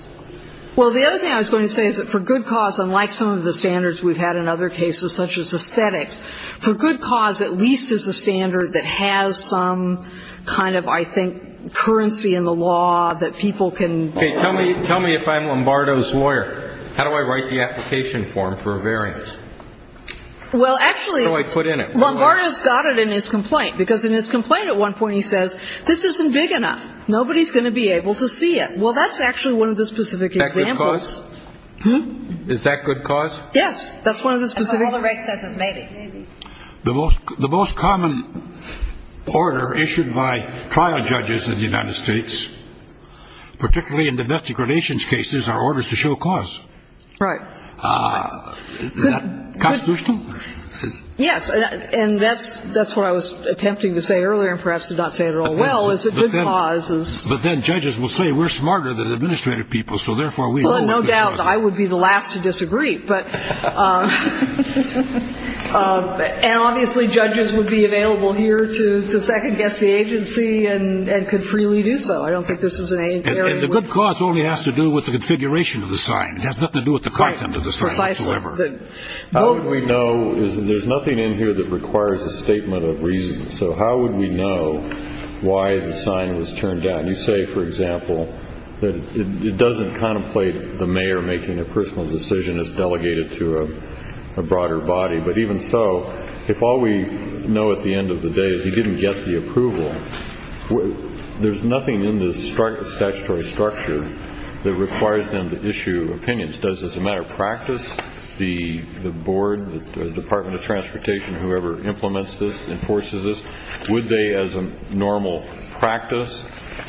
Well, the other thing I was going to say is that for good cause, unlike some of the standards we've had in other cases such as aesthetics, for good cause at least is a standard that has some kind of, I think, currency in the law that people can... Okay, tell me if I'm Lombardo's lawyer, how do I write the application form for a variance? Well, actually... How do I put in it? Lombardo's got it in his complaint because in his complaint at one point he says, this isn't big enough, nobody's going to be able to see it. Well, that's actually one of the specific examples. Is that good cause? Hmm? Is that good cause? Yes. That's one of the specific... And by all the right senses maybe. Maybe. The most common order issued by trial judges in the United States, particularly in domestic relations cases, are orders to show cause. Right. Is that constitutional? Yes, and that's what I was attempting to say earlier and perhaps did not say it all well, is that good cause is... But then judges will say we're smarter than administrative people, so therefore we... Well, no doubt I would be the last to disagree, but... And obviously judges would be available here to second-guess the agency and could freely do so. I don't think this is an area where... And the good cause only has to do with the configuration of the sign. It has nothing to do with the content of the sign whatsoever. How would we know? There's nothing in here that requires a statement of reason. So how would we know why the sign was turned down? You say, for example, that it doesn't contemplate the mayor making a personal decision as delegated to a broader body. But even so, if all we know at the end of the day is he didn't get the approval, there's nothing in this statutory structure that requires them to issue opinions. Does this matter practice? The board, the Department of Transportation, whoever implements this, enforces this, would they, as a normal practice,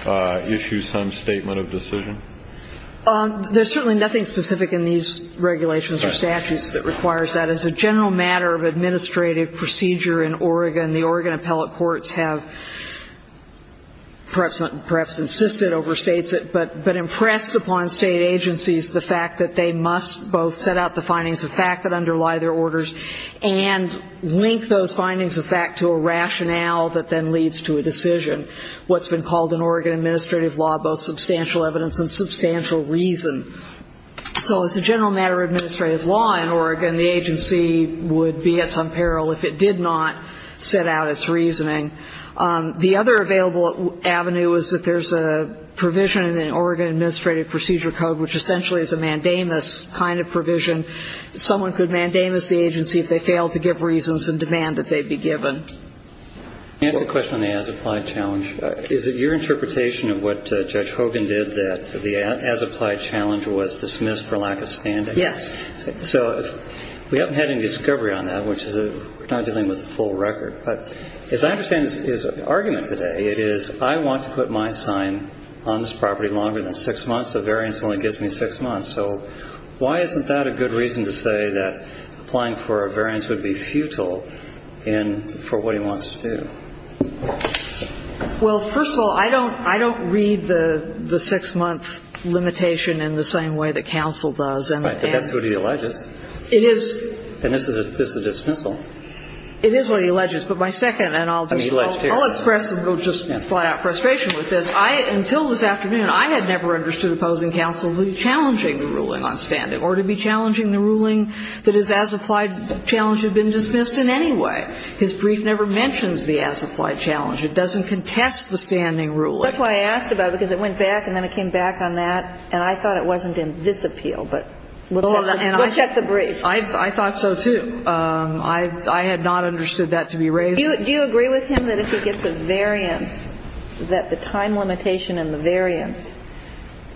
issue some statement of decision? There's certainly nothing specific in these regulations or statutes that requires that. As a general matter of administrative procedure in Oregon, the Oregon appellate courts have perhaps insisted, overstates it, but impressed upon state agencies the fact that they must both set out the findings of fact that underlie their orders and link those findings of fact to a rationale that then leads to a decision, what's been called in Oregon administrative law both substantial evidence and substantial reason. So as a general matter of administrative law in Oregon, the agency would be at some peril if it did not set out its reasoning. The other available avenue is that there's a provision in the Oregon Administrative Procedure Code, which essentially is a mandamus kind of provision. Someone could mandamus the agency if they failed to give reasons and demand that they be given. Let me ask a question on the as-applied challenge. Is it your interpretation of what Judge Hogan did that the as-applied challenge was dismissed for lack of standing? Yes. So we haven't had any discovery on that, which is not dealing with the full record. But as I understand his argument today, it is I want to put my sign on this property longer than six months. The variance only gives me six months. So why isn't that a good reason to say that applying for a variance would be futile for what he wants to do? Well, first of all, I don't read the six-month limitation in the same way that counsel does. Right. But that's what he alleges. It is. And this is a dismissal. It is what he alleges. But my second, and I'll just flat out frustration with this. Until this afternoon, I had never understood opposing counsel to be challenging the ruling on standing or to be challenging the ruling that his as-applied challenge had been dismissed in any way. His brief never mentions the as-applied challenge. It doesn't contest the standing ruling. That's why I asked about it, because it went back and then it came back on that. And I thought it wasn't in this appeal. But we'll check the brief. I thought so, too. I had not understood that to be raised. Do you agree with him that if he gets a variance, that the time limitation and the variance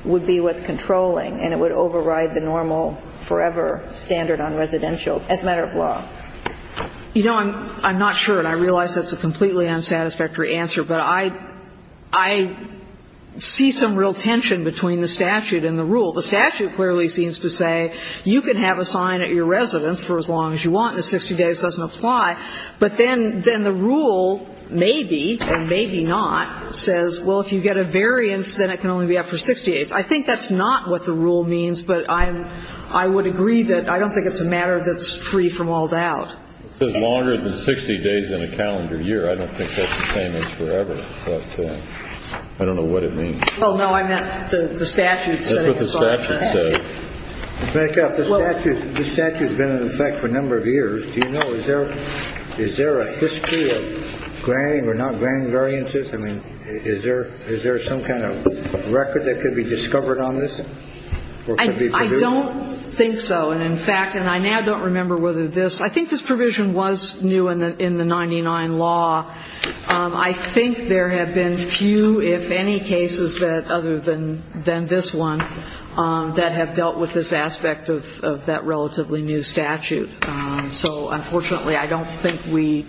would be what's controlling and it would override the normal forever standard on residential as a matter of law? You know, I'm not sure. And I realize that's a completely unsatisfactory answer. But I see some real tension between the statute and the rule. The statute clearly seems to say you can have a sign at your residence for as long as you want and 60 days doesn't apply. But then the rule maybe and maybe not says, well, if you get a variance, then it can only be up for 60 days. I think that's not what the rule means. But I would agree that I don't think it's a matter that's free from all doubt. It says longer than 60 days in a calendar year. I don't think that's the same as forever. But I don't know what it means. Well, no, I meant the statute. That's what the statute says. To back up, the statute has been in effect for a number of years. Do you know, is there a history of grand or not grand variances? I mean, is there some kind of record that could be discovered on this? I don't think so. And, in fact, and I now don't remember whether this ‑‑ I think this provision was new in the 99 law. I think there have been few, if any, cases other than this one that have dealt with this aspect of that relatively new statute. So, unfortunately, I don't think we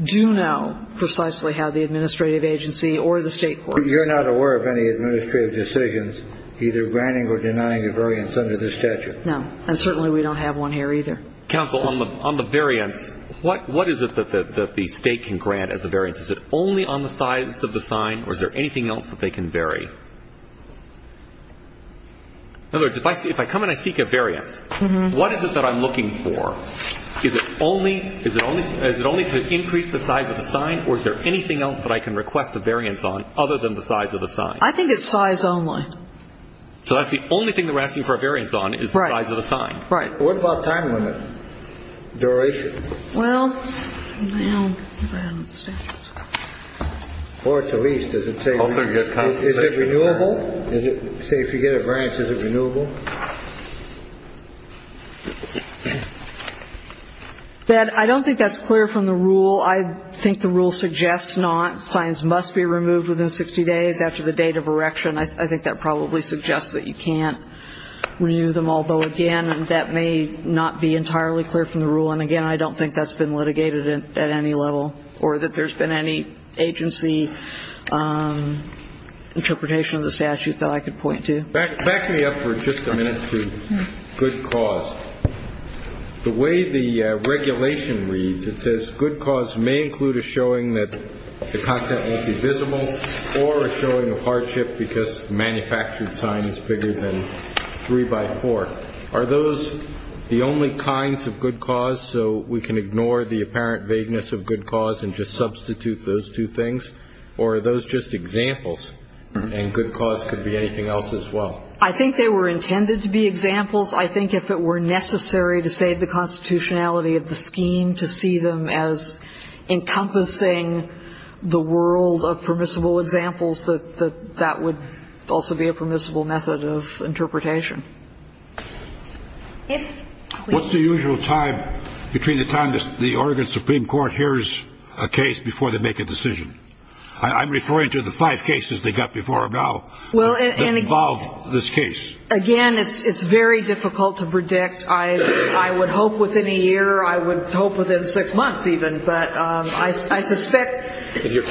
do know precisely how the administrative agency or the state courts. But you're not aware of any administrative decisions either granting or denying a variance under this statute? No. And certainly we don't have one here either. Counsel, on the variance, what is it that the state can grant as a variance? Is it only on the size of the sign, or is there anything else that they can vary? In other words, if I come and I seek a variance, what is it that I'm looking for? Is it only ‑‑ is it only to increase the size of the sign, or is there anything else that I can request a variance on other than the size of the sign? I think it's size only. So that's the only thing that we're asking for a variance on is the size of the sign? Right. Right. What about time limit duration? Well, I don't know. Or at the least, does it say ‑‑ Also, you get compensation. Is it renewable? Say, if you get a variance, is it renewable? I don't think that's clear from the rule. I think the rule suggests not. Signs must be removed within 60 days after the date of erection. I think that probably suggests that you can't renew them. Although, again, that may not be entirely clear from the rule. And, again, I don't think that's been litigated at any level or that there's been any agency interpretation of the statute that I could point to. Back me up for just a minute to good cause. The way the regulation reads, it says good cause may include a showing that the content won't be visible or a showing of hardship because the manufactured sign is bigger than three by four. Are those the only kinds of good cause so we can ignore the apparent vagueness of good cause and just substitute those two things? Or are those just examples and good cause could be anything else as well? I think they were intended to be examples. I think if it were necessary to save the constitutionality of the scheme, to see them as encompassing the world of permissible examples, that that would also be a permissible method of interpretation. What's the usual time between the time the Oregon Supreme Court hears a case before they make a decision? I'm referring to the five cases they got before now that involve this case. Again, it's very difficult to predict. I would hope within a year. I would hope within six months even. But I suspect they're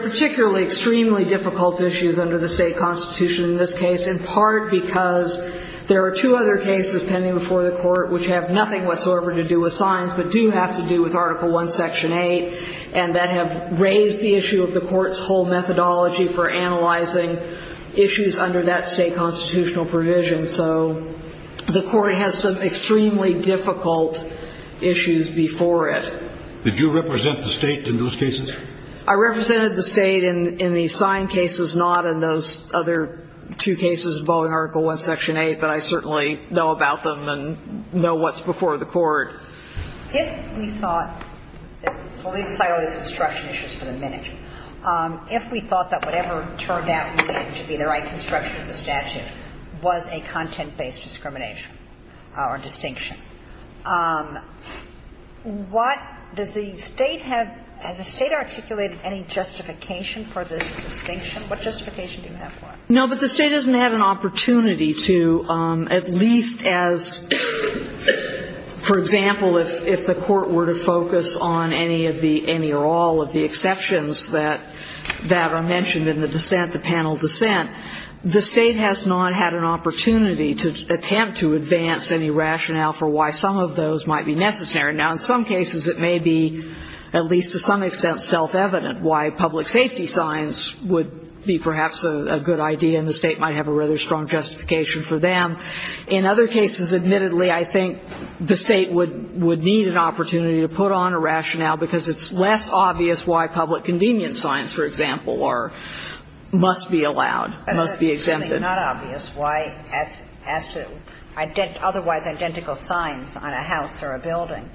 particularly extremely difficult issues under the state constitution in this case in part because there are two other cases pending before the court which have nothing whatsoever to do with signs but do have to do with Article I, Section 8, and that have raised the issue of the court's whole methodology for analyzing issues under that state constitutional provision. So the court has some extremely difficult issues before it. Did you represent the state in those cases? I represented the state in the sign cases, not in those other two cases involving Article I, Section 8, but I certainly know about them and know what's before the court. If we thought that whatever turned out to be the right construction of the statute was a content-based discrimination or distinction, what does the state have as a state articulated any justification for this distinction? What justification do you have for it? No, but the state doesn't have an opportunity to at least as, for example, if the court were to focus on any of the any or all of the exceptions that are mentioned in the dissent, the panel dissent, the state has not had an opportunity to attempt to advance any rationale for why some of those might be necessary. Now, in some cases it may be at least to some extent self-evident why public safety signs would be perhaps a good idea and the state might have a rather strong justification for them. In other cases, admittedly, I think the state would need an opportunity to put on a rationale because it's less obvious why public convenience signs, for example, are, must be allowed, must be exempted. But it's not obvious why as to otherwise identical signs on a house or a building,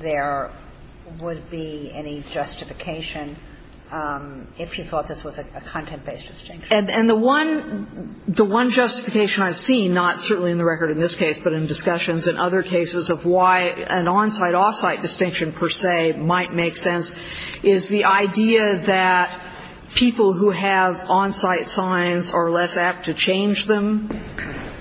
there would be any justification if you thought this was a content-based distinction. And the one justification I've seen, not certainly in the record in this case, but in discussions in other cases of why an on-site, off-site distinction per se might make sense, is the idea that people who have on-site signs are less apt to change them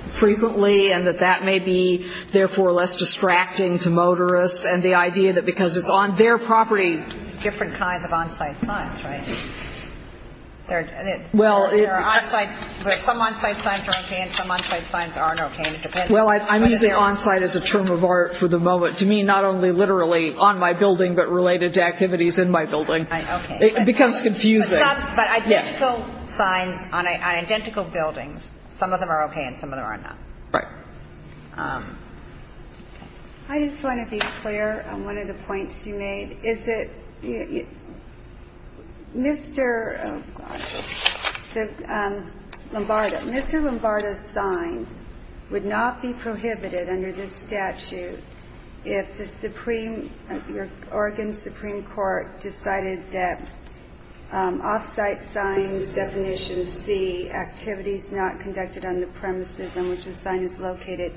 frequently and that that may be, therefore, less distracting to motorists and the idea that because it's on their property. Different kinds of on-site signs, right? There are on-site, but some on-site signs are okay and some on-site signs aren't okay and it depends. Well, I'm using on-site as a term of art for the moment. To me, not only literally on my building, but related to activities in my building. Okay. It becomes confusing. But identical signs on identical buildings, some of them are okay and some of them are not. Right. I just want to be clear on one of the points you made. Is it Mr. Lombardo, Mr. Lombardo's sign would not be prohibited under this statute if the Oregon Supreme Court decided that off-site signs definition C, activities not conducted on the premises on which the sign is located,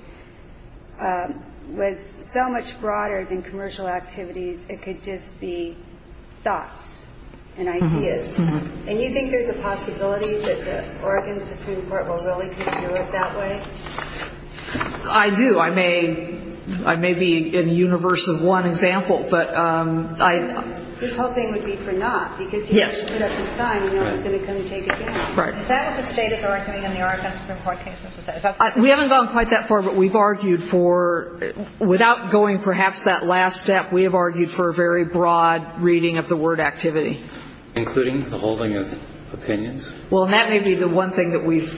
was so much broader than commercial activities. It could just be thoughts and ideas. And you think there's a possibility that the Oregon Supreme Court will really continue it that way? I do. I may be in the universe of one example. This whole thing would be for not. Yes. Is that what the State is arguing in the Oregon Supreme Court case? We haven't gone quite that far. But we've argued for, without going perhaps that last step, we have argued for a very broad reading of the word activity. Including the holding of opinions? Well, that may be the one thing that we've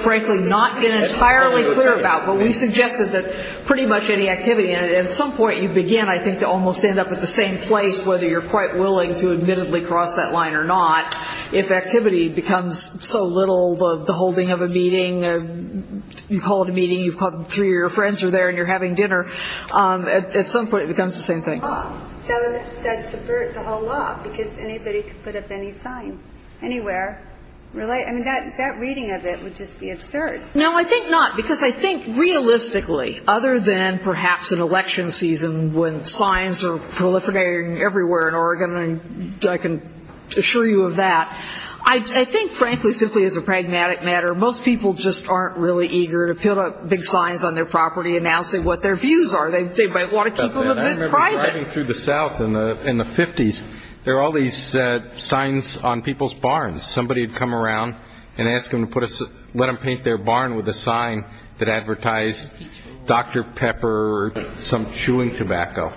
frankly not been entirely clear about. But we've suggested that pretty much any activity, and at some point you begin I think to almost end up at the same place, whether you're quite willing to admittedly cross that line or not. If activity becomes so little, the holding of a meeting, you call it a meeting, three of your friends are there and you're having dinner, at some point it becomes the same thing. That's the whole law because anybody can put up any sign anywhere. I mean, that reading of it would just be absurd. No, I think not. Because I think realistically, other than perhaps an election season when signs are proliferating everywhere in Oregon, and I can assure you of that, I think, frankly, simply as a pragmatic matter, most people just aren't really eager to put up big signs on their property announcing what their views are. They might want to keep them a bit private. I remember driving through the south in the 50s, there were all these signs on people's barns. Somebody would come around and ask them to let them paint their barn with a sign that advertised Dr. Pepper or some chewing tobacco.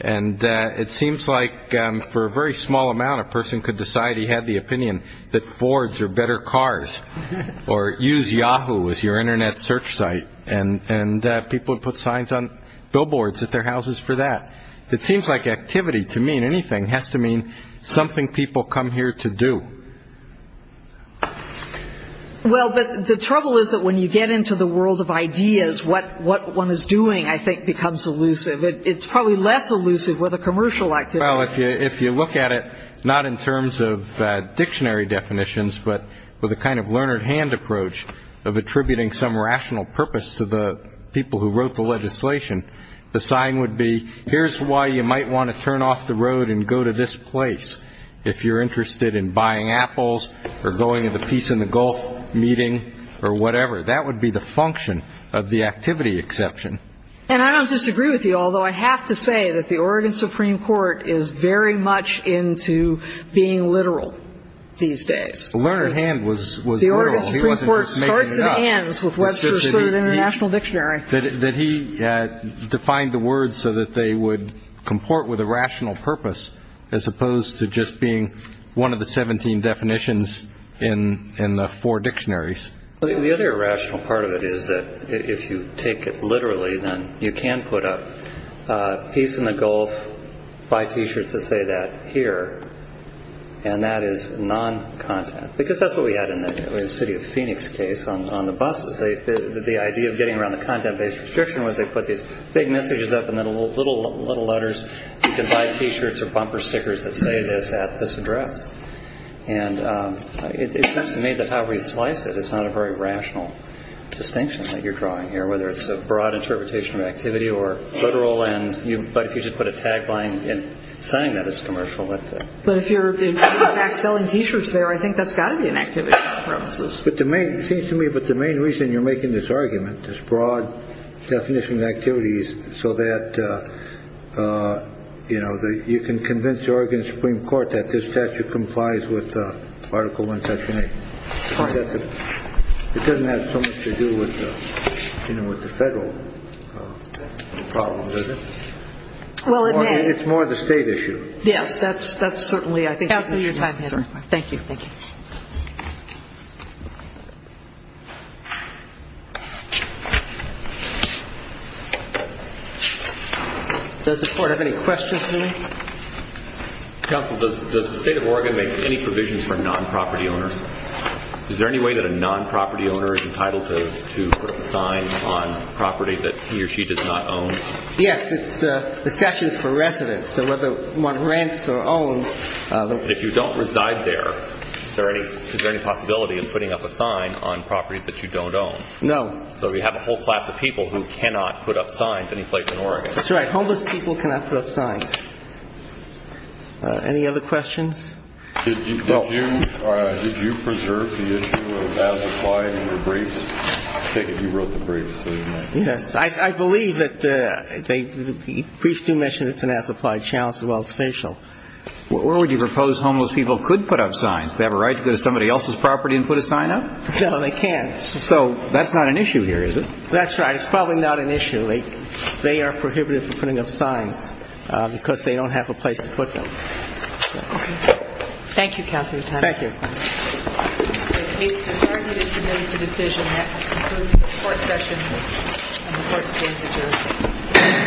And it seems like for a very small amount, a person could decide he had the opinion that Fords are better cars or use Yahoo as your Internet search site. And people would put signs on billboards at their houses for that. It seems like activity, to me, in anything, has to mean something people come here to do. Well, but the trouble is that when you get into the world of ideas, what one is doing, I think, becomes elusive. It's probably less elusive with a commercial activity. Well, if you look at it not in terms of dictionary definitions but with a kind of learned hand approach of attributing some rational purpose to the people who wrote the legislation, the sign would be here's why you might want to turn off the road and go to this place if you're interested in buying apples or going to the Peace in the Gulf meeting or whatever. That would be the function of the activity exception. And I don't disagree with you, although I have to say that the Oregon Supreme Court is very much into being literal these days. The learned hand was literal. The Oregon Supreme Court starts and ends with Webster's Third International Dictionary. That he defined the words so that they would comport with a rational purpose as opposed to just being one of the 17 definitions in the four dictionaries. The other irrational part of it is that if you take it literally, then you can put a Peace in the Gulf, buy T-shirts that say that here, and that is non-content. Because that's what we had in the City of Phoenix case on the buses. The idea of getting around the content-based restriction was they put these big messages up and then little letters, you can buy T-shirts or bumper stickers that say this at this address. And it seems to me that however you slice it, it's not a very rational distinction that you're drawing here, whether it's a broad interpretation of activity or literal, but if you just put a tagline saying that it's commercial. But if you're, in fact, selling T-shirts there, I think that's got to be an activity on the premises. It seems to me that the main reason you're making this argument, this broad definition of activity, is so that you can convince the Oregon Supreme Court that this statute complies with Article I, Section 8. It doesn't have so much to do with the federal problem, does it? Well, it may. It's more the state issue. Yes, that's certainly I think. Counsel, your time has expired. Thank you. Thank you. Does the Court have any questions for me? Counsel, does the State of Oregon make any provisions for non-property owners? Is there any way that a non-property owner is entitled to put a sign on property that he or she does not own? Yes, the statute is for residents, so whether one rents or owns. If you don't reside there, is there any possibility of putting up a sign on property that you don't own? No. So we have a whole class of people who cannot put up signs anyplace in Oregon. That's right. Homeless people cannot put up signs. Any other questions? Did you preserve the issue of as applied in your briefs? I take it you wrote the briefs. Yes. I believe that the briefs do mention it's an as applied challenge as well as facial. Or would you propose homeless people could put up signs? They have a right to go to somebody else's property and put a sign up? No, they can't. So that's not an issue here, is it? That's right. It's probably not an issue. They are prohibited from putting up signs because they don't have a place to put them. Thank you, Counsel. Thank you. The case is submitted to decision. That concludes the Court session. And the Court stands adjourned.